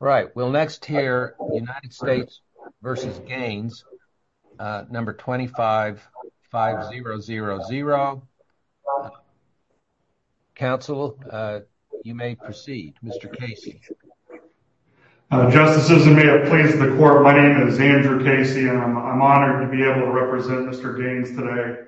Right, we'll next hear United States v. Gaines, number 25-5000. Counsel, you may proceed. Mr. Casey. Justices and may it please the court, my name is Andrew Casey and I'm honored to be able to represent Mr. Gaines today.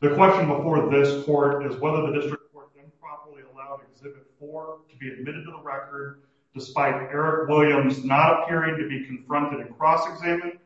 The question before this court is whether the district court improperly allowed Exhibit 4 to be admitted to the record despite Eric Williams not appearing to be confronted and cross-examined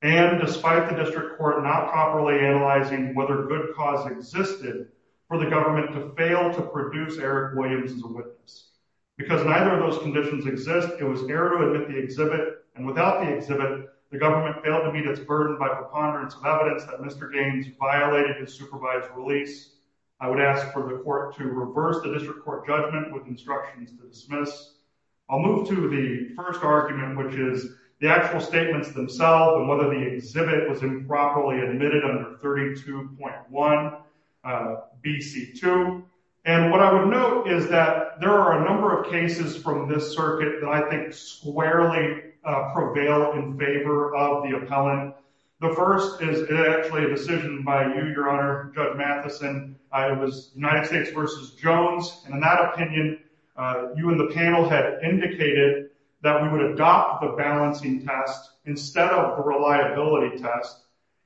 and despite the district court not properly analyzing whether good cause existed for the government to fail to produce Eric Williams as a witness. Because neither of those conditions exist, it was air to admit the exhibit and without the exhibit, the government failed to meet its burden by preponderance of evidence that Mr. Gaines violated his supervised release. I would ask for the court to reverse the district court judgment with instructions to dismiss. I'll move to the first argument, which is the actual statements themselves and whether the exhibit was improperly admitted under 32.1 BC2. And what I would note is that there are a number of cases from this circuit that I think squarely prevail in favor of the appellant. The first is actually a decision by you, Your Honor, Judge Matheson. It was United you and the panel had indicated that we would adopt the balancing test instead of the reliability test.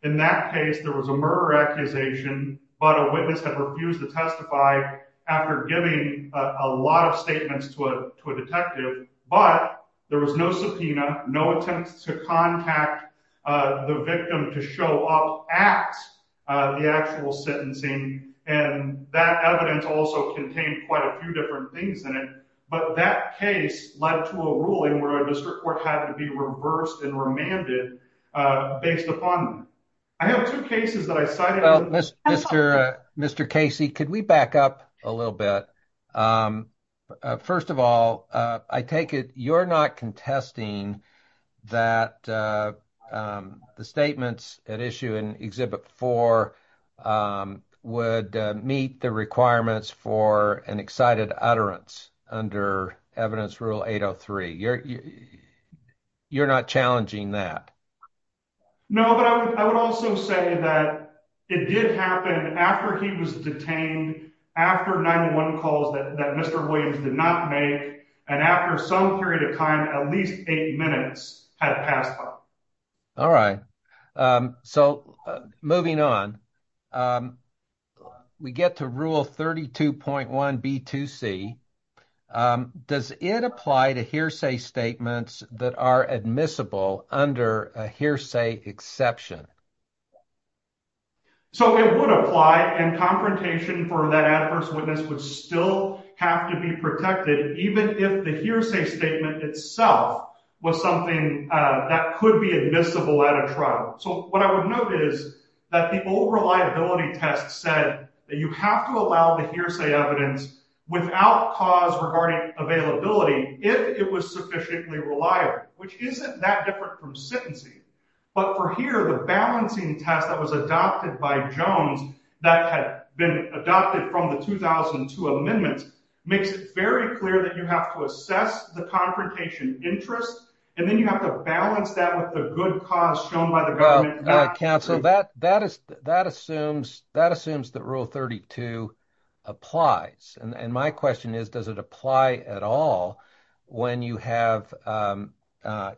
In that case, there was a murder accusation, but a witness had refused to testify after giving a lot of statements to a detective, but there was no subpoena, no attempts to contact the victim to show up at the actual sentencing. And that evidence also contained quite a few different things in it, but that case led to a ruling where a district court had to be reversed and remanded based upon. I have two cases that I cited. Mr. Casey, could we back up a little bit? First of all, I take it you're not contesting that the statements at issue in Exhibit 4 would meet the requirements for an excited utterance under Evidence Rule 803. You're not challenging that? No, but I would also say that it did happen after he was detained, after 91 calls that Mr. Williams did not make, and after some period of time, at least eight minutes had passed. All right, so moving on, we get to Rule 32.1B2C. Does it apply to hearsay statements that are admissible under a hearsay exception? So it would apply, and confrontation for that adverse witness would still have to be protected, even if the hearsay statement itself was something that could be admissible at a trial. So what I would note is that the old reliability test said that you have to allow the hearsay evidence without cause regarding availability if it was sufficiently reliable, which isn't that different from sentencing. But for here, the balancing test that was adopted by Jones, that had been adopted from the 2002 amendments, makes it very clear that you have to assess the confrontation interest, and then you have to balance that with the good cause shown by the government. Counsel, that assumes that Rule 32 applies, and my question is, does it apply at all when you have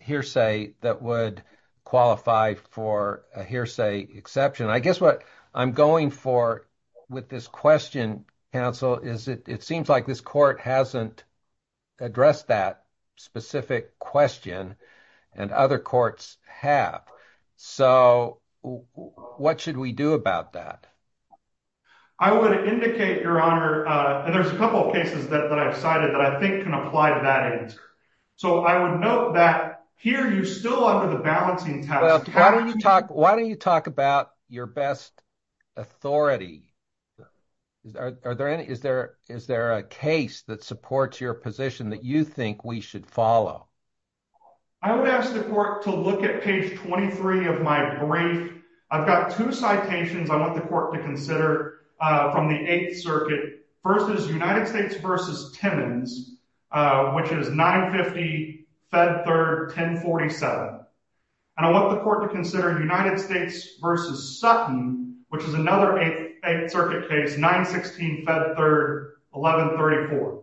hearsay that would qualify for a hearsay exception? I guess what I'm going for with this question, counsel, is it seems like this court hasn't addressed that specific question, and other courts have. So what should we do about that? I would indicate, Your Honor, and there's a couple of cases that I've cited that I think can apply to that answer. So I would note that here, you're still under the balancing test. Why don't you talk about your best authority? Is there a case that supports your position that you think we should follow? I would ask the court to look at page 23 of my brief. I've got two citations I want the court to consider from the Eighth Circuit. First is United States v. Timmons, which is 950 Fed Third 1047, and I want the court to consider United States v. Sutton, which is another Eighth Circuit case, 916 Fed Third 1134.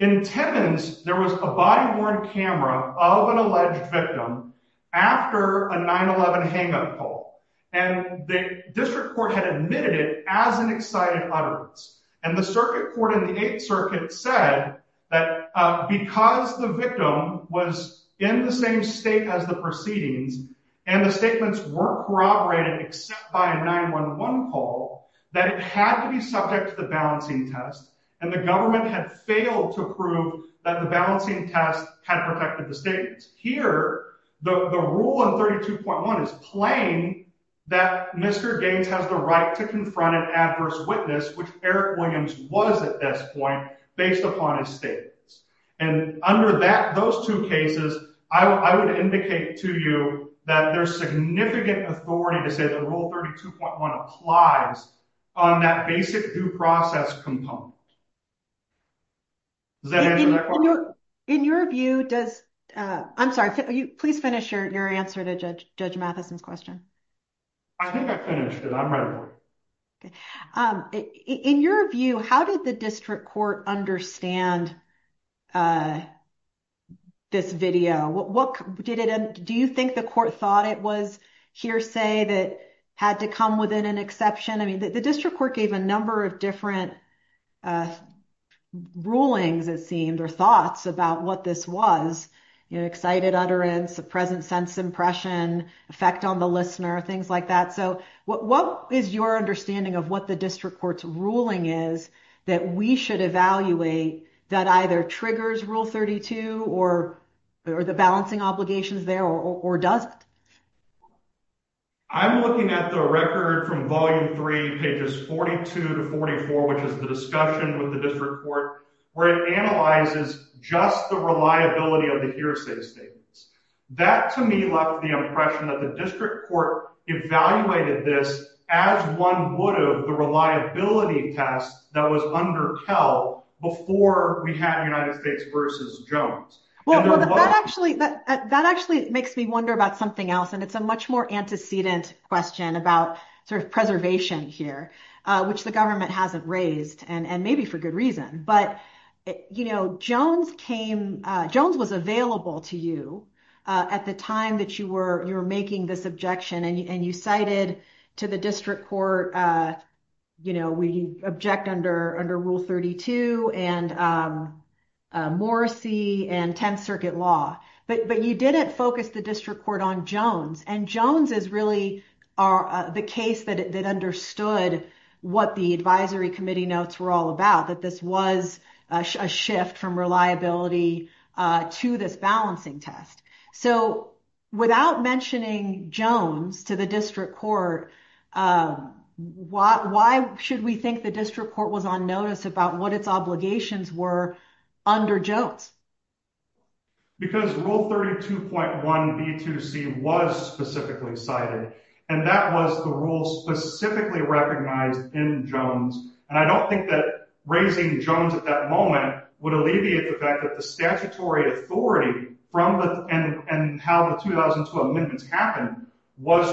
In Timmons, there was a body-worn camera of an alleged victim after a 9-11 hang-up call, and the district court had admitted as an excited utterance. And the circuit court in the Eighth Circuit said that because the victim was in the same state as the proceedings, and the statements were corroborated except by a 9-11 call, that it had to be subject to the balancing test, and the government had failed to prove that the balancing test had protected the state. Here, the rule in 32.1 is plain that Mr. Gaines has the right to confront an adverse witness, which Eric Williams was at this point, based upon his statements. And under those two cases, I would indicate to you that there's significant authority to say that Rule 32.1 applies on that basic due process component. Does that answer that question? In your view, does... I'm sorry, please finish your answer to Judge Matheson's question. I think I finished it. I'm ready. In your view, how did the district court understand this video? Do you think the court thought it was hearsay that had to come within an exception? I mean, the district court gave a number of different rulings, it seemed, or thoughts about what this was. You know, excited utterance, a present sense impression, effect on the listener, things like that. So what is your understanding of what the district court's ruling is that we should evaluate that either triggers Rule 32 or the balancing obligations there, or does it? I'm looking at the record from Volume 3, pages 42 to 44, which is the discussion with the district court, where it analyzes just the reliability of the hearsay statements. That, to me, left the impression that the district court evaluated this as one would have the reliability test that was under KEL before we had United States v. Jones. Well, that actually makes me wonder about something else, and it's a much more antecedent question about preservation here, which the government hasn't raised, and maybe for good reason. But Jones was available to you at the time that you were making this objection, and you cited to the district court, you know, we object under Rule 32 and Morrissey and 10th Circuit law, but you didn't focus the district court on Jones. And Jones is really the case that understood what the advisory committee notes were all about, that this was a shift from reliability to this balancing test. So, without mentioning Jones to the district court, why should we think the district court was on notice about what its obligations were under Jones? Because Rule 32.1b2c was specifically cited, and that was the rule specifically recognized in Jones. And I don't think that raising Jones at that moment would alleviate the fact that the statutory authority and how the 2012 amendments happened was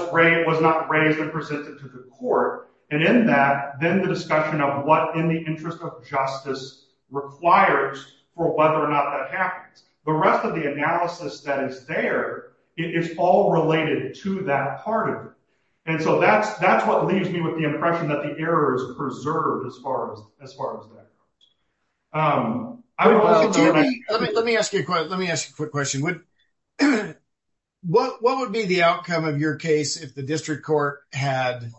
not raised and presented to the court. And in that, then the discussion of what in the interest of justice requires for whether or not that happens. The rest of the analysis that is there, it's all related to that part of it. So, that's what leaves me with the impression that the error is preserved as far as that goes. Let me ask you a quick question. What would be the outcome of your case if the district court had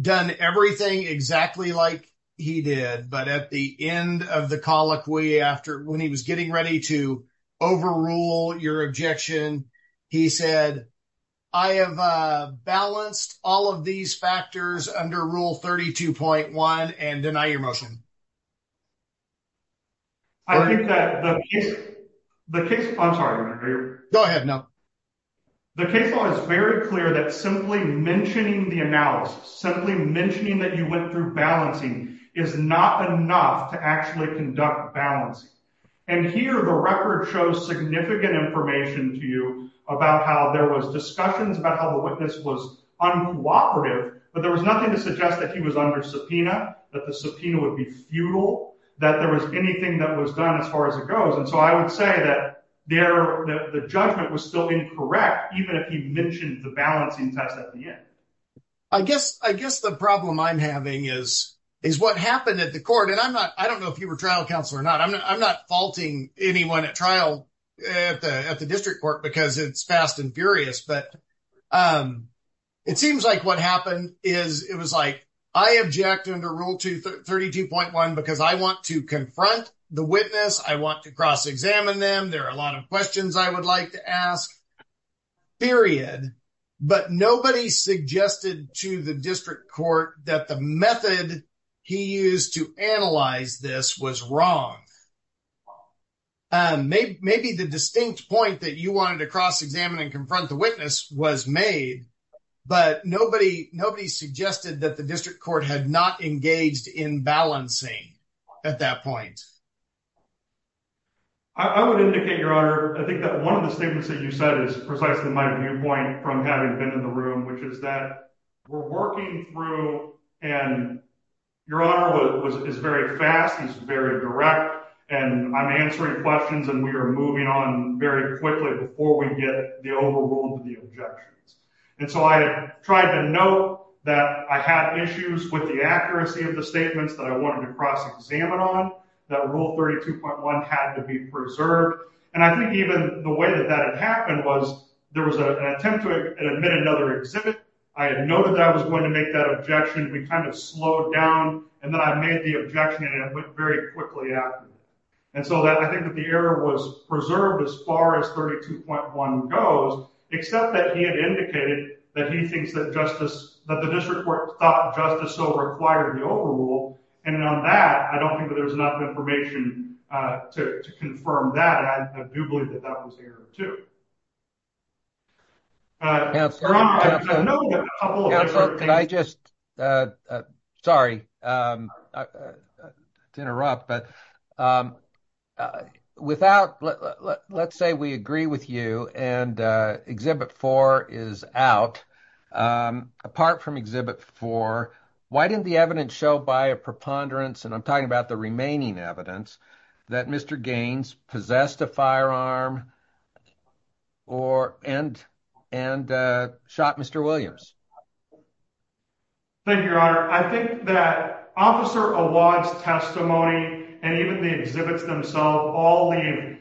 done everything exactly like he did, but at the end of the colloquy, when he was getting ready to overrule your objection, he said, I have balanced all of these factors under Rule 32.1 and deny your motion? I think that the case, I'm sorry. Go ahead, no. The case law is very clear that simply mentioning the analysis, simply mentioning that you went through balancing is not enough to conduct balancing. And here, the record shows significant information to you about how there was discussions about how the witness was uncooperative, but there was nothing to suggest that he was under subpoena, that the subpoena would be futile, that there was anything that was done as far as it goes. And so, I would say that the judgment was still incorrect, even if he mentioned the balancing test at the end. I guess the problem I'm having is what happened at the court, and I'm not, I don't know if you were trial counsel or not, I'm not faulting anyone at trial at the district court because it's fast and furious, but it seems like what happened is it was like, I object under Rule 32.1 because I want to confront the witness, I want to cross-examine them, there are a lot of questions I would like to ask, period. But nobody suggested to the district court that the method he used to analyze this was wrong. And maybe the distinct point that you wanted to cross-examine and confront the witness was made, but nobody, nobody suggested that the district court had not engaged in balancing at that point. I would indicate, Your Honor, I think that one of the statements that you said is precisely my viewpoint from having been in the room, which is that we're working through, and Your Honor was, is very fast, he's very direct, and I'm answering questions, and we are moving on very quickly before we get the overrule of the objections. And so, I tried to note that I had issues with the accuracy of the statements that I wanted to cross-examine on, that Rule 32.1 had to be preserved, and I think even the way that that happened was, there was an attempt to admit another exhibit, I had noted that I was going to make that objection, we kind of slowed down, and then I made the objection, and it went very quickly after that. And so that, I think that the error was preserved as far as 32.1 goes, except that he had indicated that he thinks that justice, that the district court thought justice so required the overrule, and on that, I don't think that there's enough information to confirm that, and I do believe that that was the error, too. Counselor, can I just, sorry to interrupt, but without, let's say we agree with you, and Exhibit 4 is out, apart from Exhibit 4, why didn't the evidence show by a preponderance, I'm talking about the remaining evidence, that Mr. Gaines possessed a firearm and shot Mr. Williams? Thank you, Your Honor. I think that Officer Awad's testimony, and even the exhibits themselves, all leave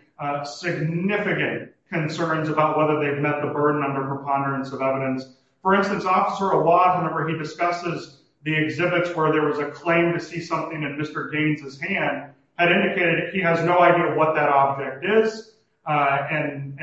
significant concerns about whether they've met the burden under preponderance of evidence. For instance, Officer Awad, whenever he discusses the exhibits where there was a claim to see something in Mr. Gaines's hand, had indicated he has no idea what that object is, and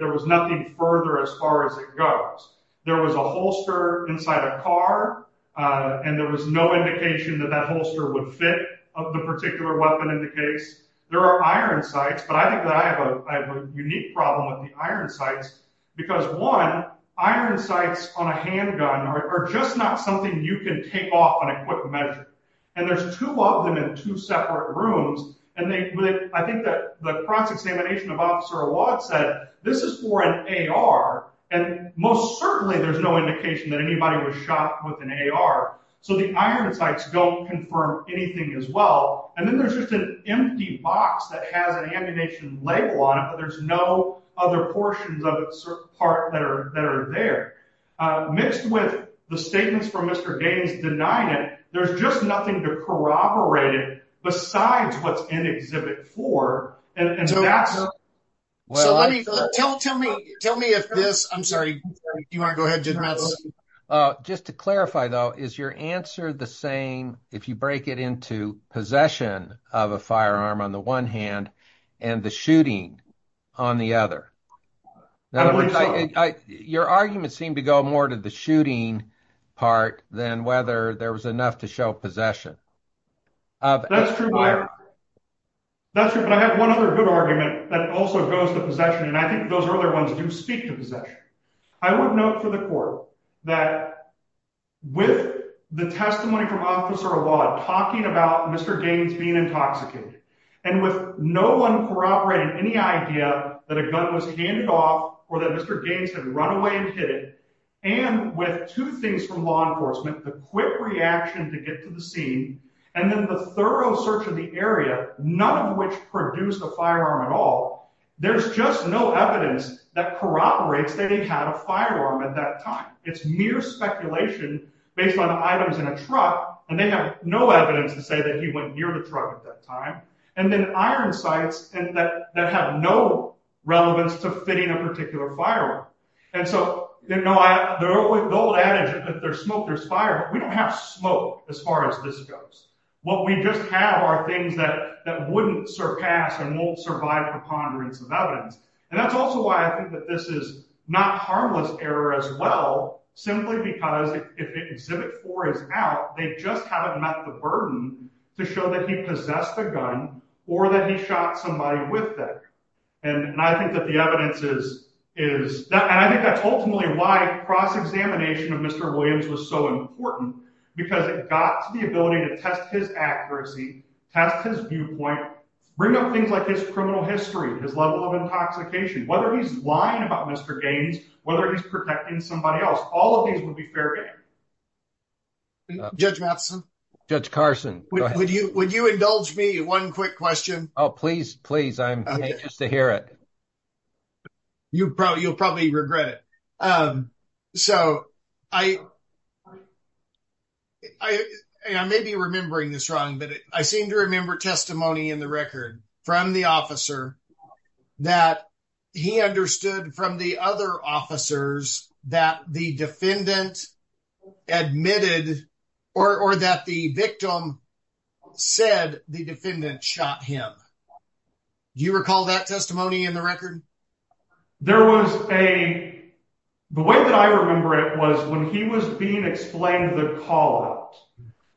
there was nothing further as far as it goes. There was a holster inside a car, and there was no indication that that holster would fit the particular weapon in the case. There are iron sights, but I think that I have a unique problem with the iron sights, because one, iron sights on a handgun are just not something you can take off on a quick measure, and there's two of them in two separate rooms, and I think that the cross-examination of Officer Awad said, this is for an AR, and most certainly there's no indication that anybody was shot with an AR, so the iron sights don't confirm anything as well, and then there's just an empty box that has an ammunition label on it, but there's no other portions of certain parts that are there. Mixed with the statements from Mr. Gaines denying it, there's just nothing to corroborate it besides what's in Exhibit 4, and so that's... Just to clarify though, is your answer the same if you break it into possession of a firearm on the hand and the shooting on the other? I believe so. Your argument seemed to go more to the shooting part than whether there was enough to show possession. That's true, but I have one other good argument that also goes to possession, and I think those other ones do speak to possession. I would note for the court that with the testimony from Officer Awad talking about Mr. Gaines being intoxicated, and with no one corroborating any idea that a gun was handed off or that Mr. Gaines had run away and hid it, and with two things from law enforcement, the quick reaction to get to the scene, and then the thorough search of the area, none of which produced a firearm at all, there's just no evidence that corroborates that he had a firearm at that time. It's mere speculation based on items in a truck, and they have no evidence to say that he went near the truck at that time, and then iron sights that have no relevance to fitting a particular firearm, and so the old adage that there's smoke, there's fire, we don't have smoke as far as this goes. What we just have are things that wouldn't surpass and won't survive the ponderance of evidence, and that's also why I think that this is not harmless error as well, simply because if Exhibit 4 is out, they just haven't met the burden to show that he possessed a gun or that he shot somebody with it, and I think that the evidence is that, and I think that's ultimately why cross-examination of Mr. Williams was so important, because it got to the ability to test his accuracy, test his viewpoint, bring up things like his criminal history, his level of intoxication, whether he's lying about Mr. Gaines, whether he's protecting somebody else, all of these would be fair game. Judge Matheson? Judge Carson? Would you indulge me one quick question? Oh, please, please, I'm anxious to hear it. You'll probably regret it. So, I may be remembering this wrong, but I seem to remember testimony in the record from the officer that he understood from the other officers that the defendant admitted, or that the victim said the defendant shot him. Do you recall that testimony in the record? There was a, the way that I remember it was when he was being explained the call-out,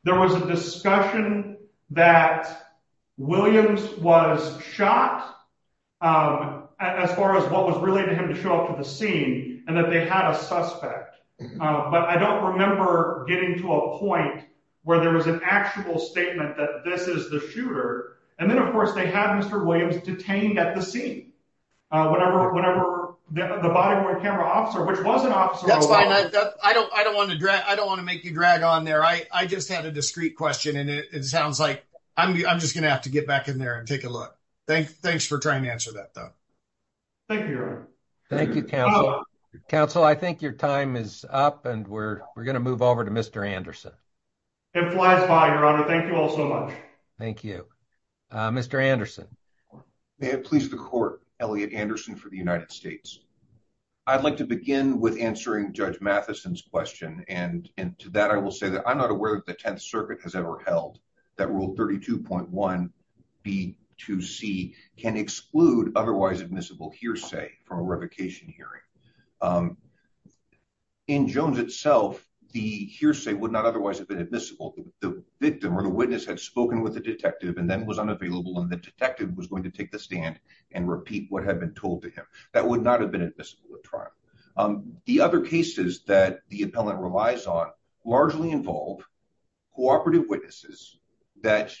there was a discussion that Williams was shot, as far as what was related to him to show up to the scene, and that they had a suspect, but I don't remember getting to a point where there was an actual statement that this is the shooter, and then, of course, they had Mr. Williams detained at the scene, whenever the body camera officer, which was an officer. That's fine, I don't want to drag, I don't want to make you drag on there. I just had a discreet question, and it sounds like I'm just going to have to get back in there and take a look. Thanks for trying to answer that, though. Thank you, Your Honor. Thank you, Counsel. Counsel, I think your time is up, and we're going to move over to Mr. Anderson. It flies by, Your Honor. Thank you all so much. Thank you. Mr. Jones, please. Please, the court. Elliot Anderson for the United States. I'd like to begin with answering Judge Matheson's question, and to that, I will say that I'm not aware that the Tenth Circuit has ever held that Rule 32.1b-2c can exclude otherwise admissible hearsay from a revocation hearing. In Jones itself, the hearsay would not otherwise have been admissible. The victim or the witness had spoken with the detective, and then was unavailable, and the detective was going to take the stand and repeat what had been told to him. That would not have been admissible at trial. The other cases that the appellant relies on largely involve cooperative witnesses that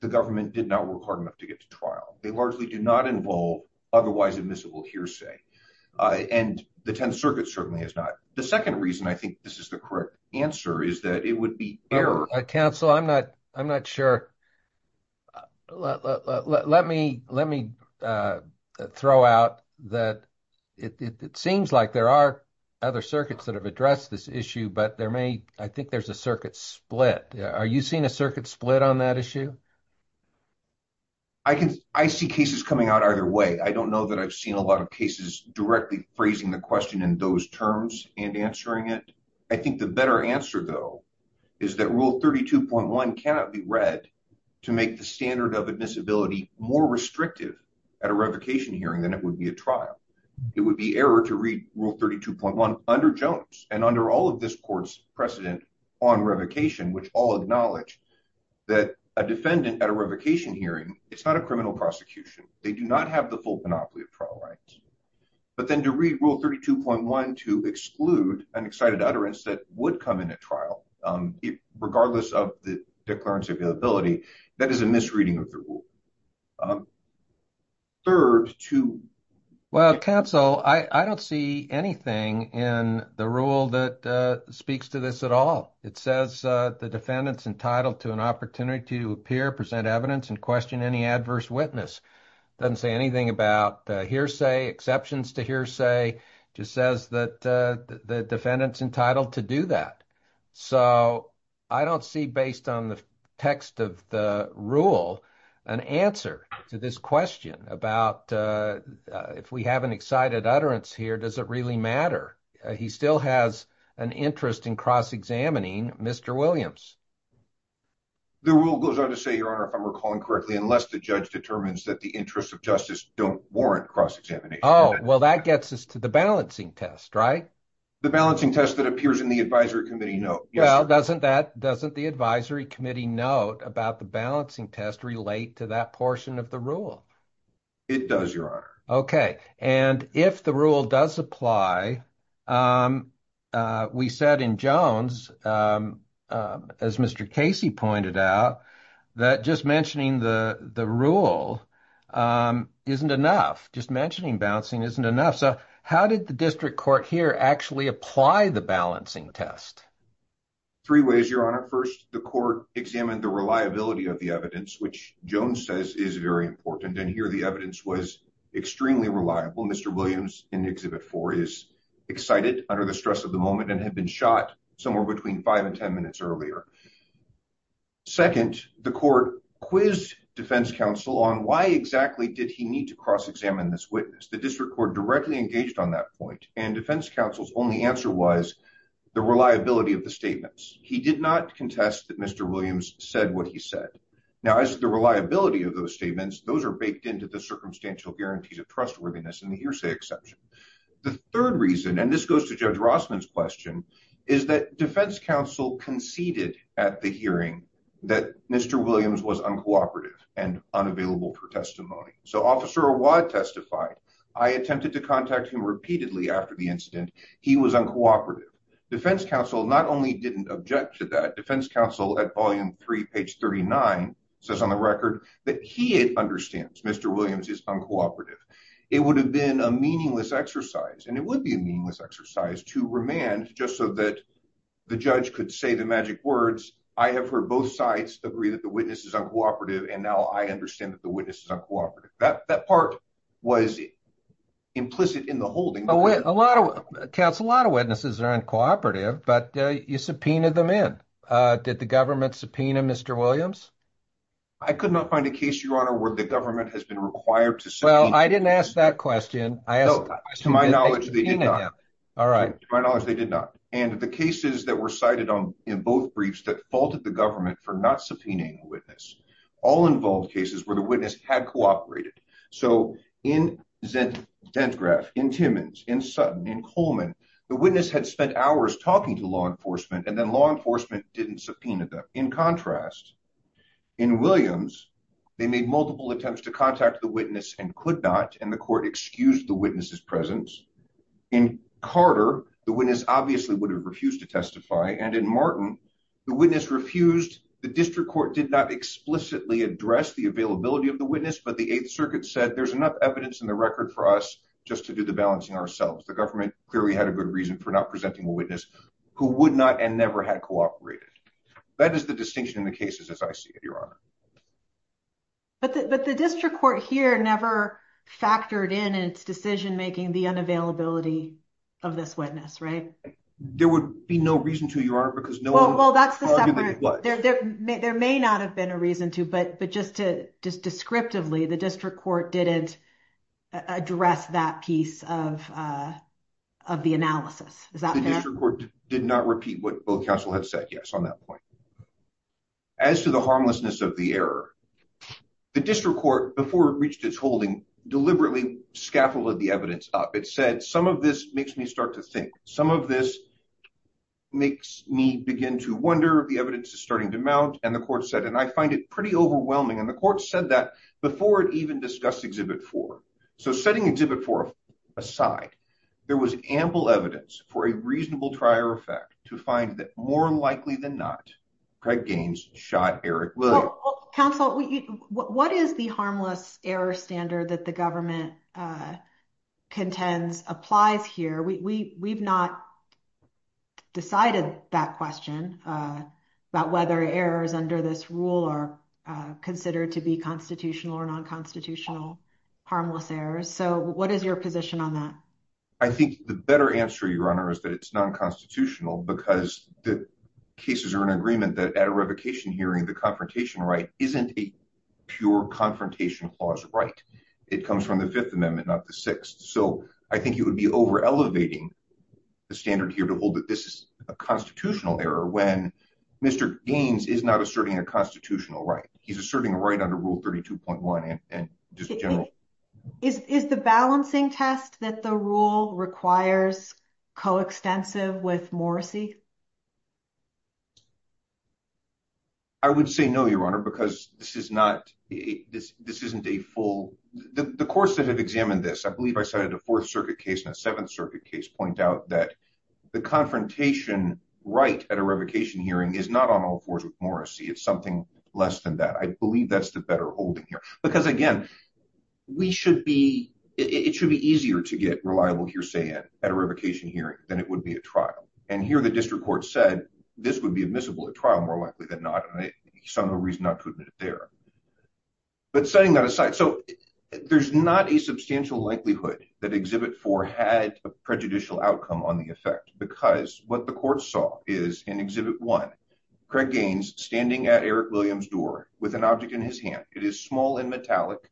the government did not work hard enough to get to trial. They largely do not involve otherwise admissible hearsay, and the Tenth Circuit certainly is not. The second reason I think this is the correct answer is that it would be error. Counsel, I'm not sure. Let me throw out that it seems like there are other circuits that have addressed this issue, but I think there's a circuit split. Are you seeing a circuit split on that issue? I see cases coming out either way. I don't know that I've seen a lot of cases directly phrasing the question in those terms and answering it. I think the better answer, though, is that Rule 32.1 cannot be read to make the standard of admissibility more restrictive at a revocation hearing than it would be at trial. It would be error to read Rule 32.1 under Jones and under all of this court's precedent on revocation, which all acknowledge that a defendant at a revocation hearing is not a criminal prosecution. They do not have the full monopoly of trial rights, but then to read Rule 32.1 to exclude an excited utterance that would come in trial, regardless of the declarance of inability, that is a misreading of the rule. Third, two. Well, counsel, I don't see anything in the rule that speaks to this at all. It says the defendant is entitled to an opportunity to appear, present evidence, and question any adverse witness. It doesn't say anything about hearsay, exceptions to hearsay. It just says that the defendant's entitled to do that. So I don't see, based on the text of the rule, an answer to this question about if we have an excited utterance here, does it really matter? He still has an interest in cross-examining Mr. Williams. The rule goes on to say, Your Honor, if I'm recalling correctly, unless the judge determines that the interests of justice don't warrant cross-examination. Well, that gets us to the balancing test, right? The balancing test that appears in the advisory committee note. Well, doesn't that, doesn't the advisory committee note about the balancing test relate to that portion of the rule? It does, Your Honor. Okay, and if the rule does apply, we said in Jones, as Mr. Casey pointed out, that just mentioning the rule isn't enough. Just mentioning balancing isn't enough. So how did the district court here actually apply the balancing test? Three ways, Your Honor. First, the court examined the reliability of the evidence, which Jones says is very important, and here the evidence was extremely reliable. Mr. Williams in Exhibit 4 is excited under the stress of the moment and had been shot somewhere between five and ten minutes earlier. Second, the court quizzed defense counsel on why exactly did he need to cross-examine this witness. The district court directly engaged on that point, and defense counsel's only answer was the reliability of the statements. He did not contest that Mr. Williams said what he said. Now, as to the reliability of those statements, those are baked into the circumstantial guarantees of trustworthiness in the hearsay exception. The third reason, and this goes to Judge Rossman's question, is that defense counsel conceded at the that Mr. Williams was uncooperative and unavailable for testimony. So Officer Awad testified, I attempted to contact him repeatedly after the incident. He was uncooperative. Defense counsel not only didn't object to that, defense counsel at Volume 3, page 39, says on the record that he understands Mr. Williams is uncooperative. It would have been a meaningless exercise, and it would be a meaningless exercise to remand just so that the judge could say the magic words, I have heard both sides agree that the witness is uncooperative, and now I understand that the witness is uncooperative. That part was implicit in the holding. A lot of accounts, a lot of witnesses are uncooperative, but you subpoenaed them in. Did the government subpoena Mr. Williams? I could not find a case, Your Honor, where the government has been required to subpoena. Well, I didn't ask that question. To my knowledge, they did not. All right. To my knowledge, they did not. And the cases that were cited in both briefs that faulted the government for not subpoenaing a witness, all involved cases where the witness had cooperated. So in Zentgraph, in Timmins, in Sutton, in Coleman, the witness had spent hours talking to law enforcement, and then law enforcement didn't subpoena them. In contrast, in Williams, they made multiple attempts to contact the witness and could not, and the court excused the witness's presence. In Carter, the witness obviously would have refused to testify. And in Martin, the witness refused. The district court did not explicitly address the availability of the witness, but the Eighth Circuit said there's enough evidence in the record for us just to do the balancing ourselves. The government clearly had a good reason for not presenting a witness who would not and never had cooperated. That is the distinction in the cases as I see it, Your Honor. But the district court here never factored in its decision-making, the unavailability of this witness, right? There would be no reason to, Your Honor, because no- Well, that's the separate- There may not have been a reason to, but just to, just descriptively, the district court didn't address that piece of the analysis. Is that fair? The district court did not repeat what both counsel had said, yes, on that point. As to the harmlessness of the error, the district court, before it reached its holding, deliberately scaffolded the evidence up. It said, some of this makes me start to think, some of this makes me begin to wonder if the evidence is starting to mount. And the court said, and I find it pretty overwhelming, and the court said that before it even discussed Exhibit 4. So setting Exhibit 4 aside, there was ample evidence for a reasonable trier effect to find that more likely than not, Craig Gaines shot Eric Williams. Counsel, what is the harmless error standard that the government contends applies here? We've not decided that question about whether errors under this rule are considered to be constitutional or non-constitutional harmless errors. So what is your position on that? I think the better answer, Your Honor, is that it's non-constitutional because the cases are in agreement that at a revocation hearing, the confrontation right isn't a pure confrontation clause right. It comes from the Fifth Amendment, not the Sixth. So I think you would be over elevating the standard here to hold that this is a constitutional error when Mr. Gaines is not asserting a constitutional right. He's asserting a right under Rule 32.1. Is the balancing test that the rule requires coextensive with Morrisey? I would say no, Your Honor, because this isn't a full... The courts that have examined this, I believe I cited a Fourth Circuit case and a Seventh Circuit case, point out that the confrontation right at a revocation hearing is not on all fours with Morrisey. It's something less than that. I believe that's the better holding here. Because again, we should be... It should be easier to get reliable hearsay at a revocation hearing than it would be at trial. And here the district court said this would be admissible at trial more likely than not. And I saw no reason not to admit it there. But setting that aside, so there's not a substantial likelihood that Exhibit 4 had a prejudicial outcome on the effect because what the court saw is in Exhibit 1, Craig Gaines standing at Eric Williams' door with an object in his hand. It is small and metallic.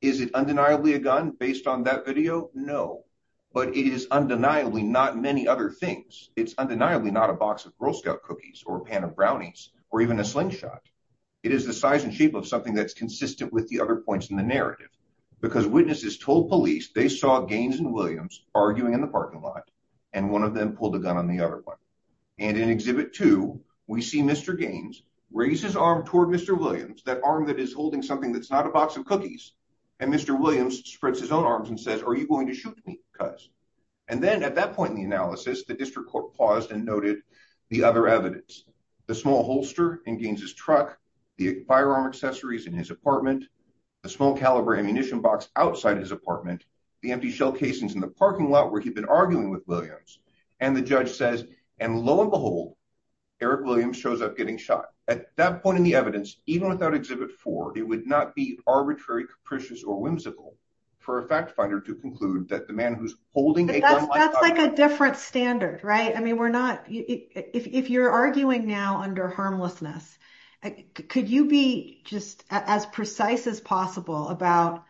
Is it undeniably a gun based on that video? No, but it is undeniably not many other things. It's undeniably not a box of Girl Scout cookies or a pan of brownies or even a slingshot. It is the size and shape of something that's consistent with the other points in the narrative. Because witnesses told police they saw Gaines and arguing in the parking lot and one of them pulled a gun on the other one. And in Exhibit 2, we see Mr. Gaines raise his arm toward Mr. Williams, that arm that is holding something that's not a box of cookies. And Mr. Williams spreads his own arms and says, are you going to shoot me? Because... And then at that point in the analysis, the district court paused and noted the other evidence. The small holster in Gaines' truck, the firearm accessories in his apartment, the small caliber ammunition box outside his apartment, the empty shell casings in the parking lot where he'd been arguing with Williams. And the judge says, and lo and behold, Eric Williams shows up getting shot. At that point in the evidence, even without Exhibit 4, it would not be arbitrary, capricious or whimsical for a fact finder to conclude that the man who's holding... But that's like a different standard, right? I mean, we're not... If you're arguing now under harmlessness, could you be just as precise as possible about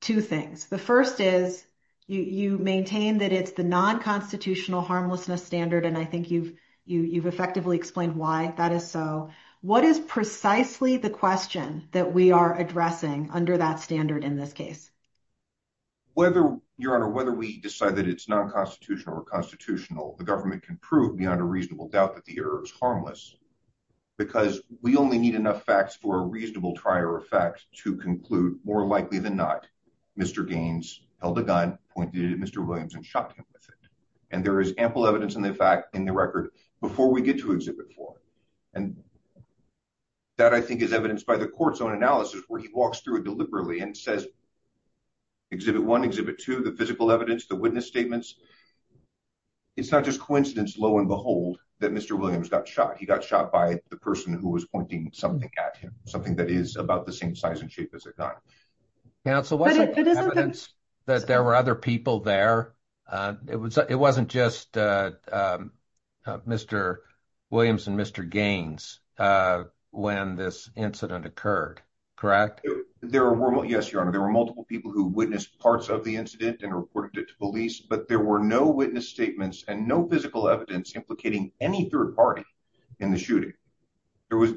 two things? The first is you maintain that it's the non-constitutional harmlessness standard, and I think you've effectively explained why that is so. What is precisely the question that we are addressing under that standard in this case? Your Honor, whether we decide that it's non-constitutional or constitutional, the government can prove beyond a reasonable doubt that the error is harmless, because we only need enough facts for a reasonable trier of facts to conclude, more likely than not, Mr. Gaines held a gun, pointed it at Mr. Williams and shot him with it. And there is ample evidence in the record before we get to Exhibit 4. And that, I think, is evidenced by the court's own analysis where he walks through it deliberately and says, Exhibit 1, Exhibit 2, the physical evidence, the witness statements. It's not just coincidence, lo and behold, that Mr. Williams got shot. He got shot by the person who was pointing something at him, something that is about the same size and shape as a gun. Counsel, wasn't there evidence that there were other people there? It wasn't just Mr. Williams and Mr. Gaines when this incident occurred, correct? There were... Yes, Your Honor. There were multiple people who witnessed parts of the incident and there were no witness statements and no physical evidence implicating any third party in the shooting.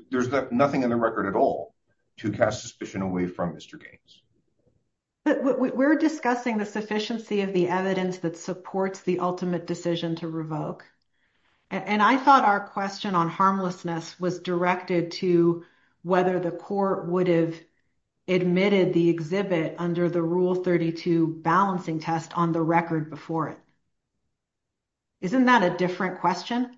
There's nothing in the record at all to cast suspicion away from Mr. Gaines. We're discussing the sufficiency of the evidence that supports the ultimate decision to revoke. And I thought our question on harmlessness was directed to whether the court would have admitted the exhibit under the Rule 32 balancing test on the record before it. Isn't that a different question?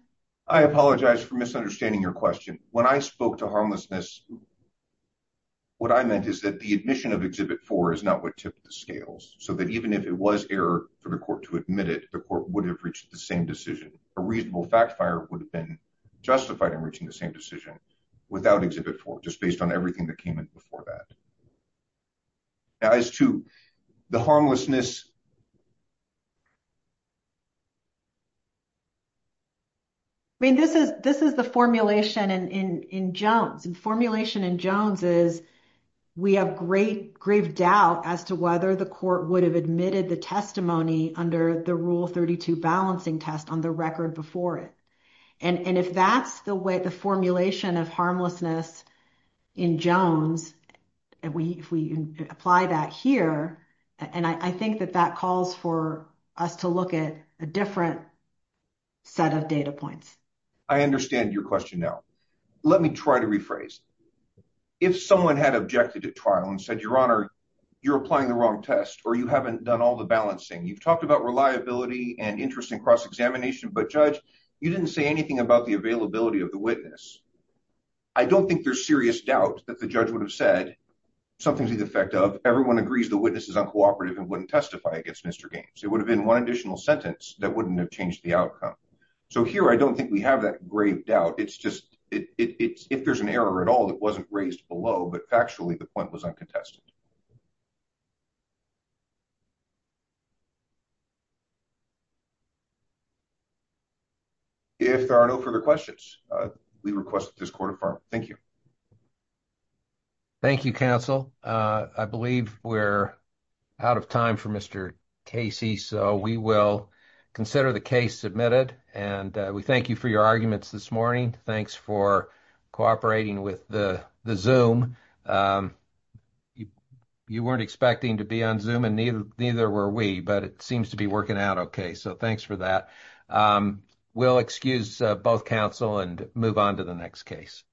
I apologize for misunderstanding your question. When I spoke to harmlessness, what I meant is that the admission of Exhibit 4 is not what tipped the scales, so that even if it was error for the court to admit it, the court would have reached the same decision. A reasonable fact fire would have been justified in reaching the same decision without Exhibit 4, just based on everything that came in before that. As to the harmlessness... I mean, this is the formulation in Jones. The formulation in Jones is we have great, grave doubt as to whether the court would have admitted the testimony under the Rule 32 balancing test on the record before it. And if that's the way the formulation of harmlessness in Jones, if we apply that here, and I think that that calls for us to look at a different set of data points. I understand your question now. Let me try to rephrase. If someone had objected to trial and said, Your Honor, you're applying the wrong test, or you haven't done all the balancing. You've talked about reliability and interest in cross-examination, but Judge, you didn't say anything about the availability of the witness. I don't think there's serious doubt that the judge would have said something to the effect of, Everyone agrees the witness is uncooperative and wouldn't testify against Mr. Gaines. It would have been one additional sentence that wouldn't have changed the outcome. So here, I don't think we have that grave doubt. It's just, if there's an error at all, it wasn't raised below, but factually, the point was uncontested. If there are no further questions, we request that this court affirm. Thank you. Thank you, counsel. I believe we're out of time for Mr. Casey, so we will consider the case submitted. We thank you for your arguments this morning. Thanks for cooperating with the Zoom. You weren't expecting to be on Zoom, and neither were we, but it seems to be working out okay, so thanks for that. We'll excuse both counsel and move on to the next case.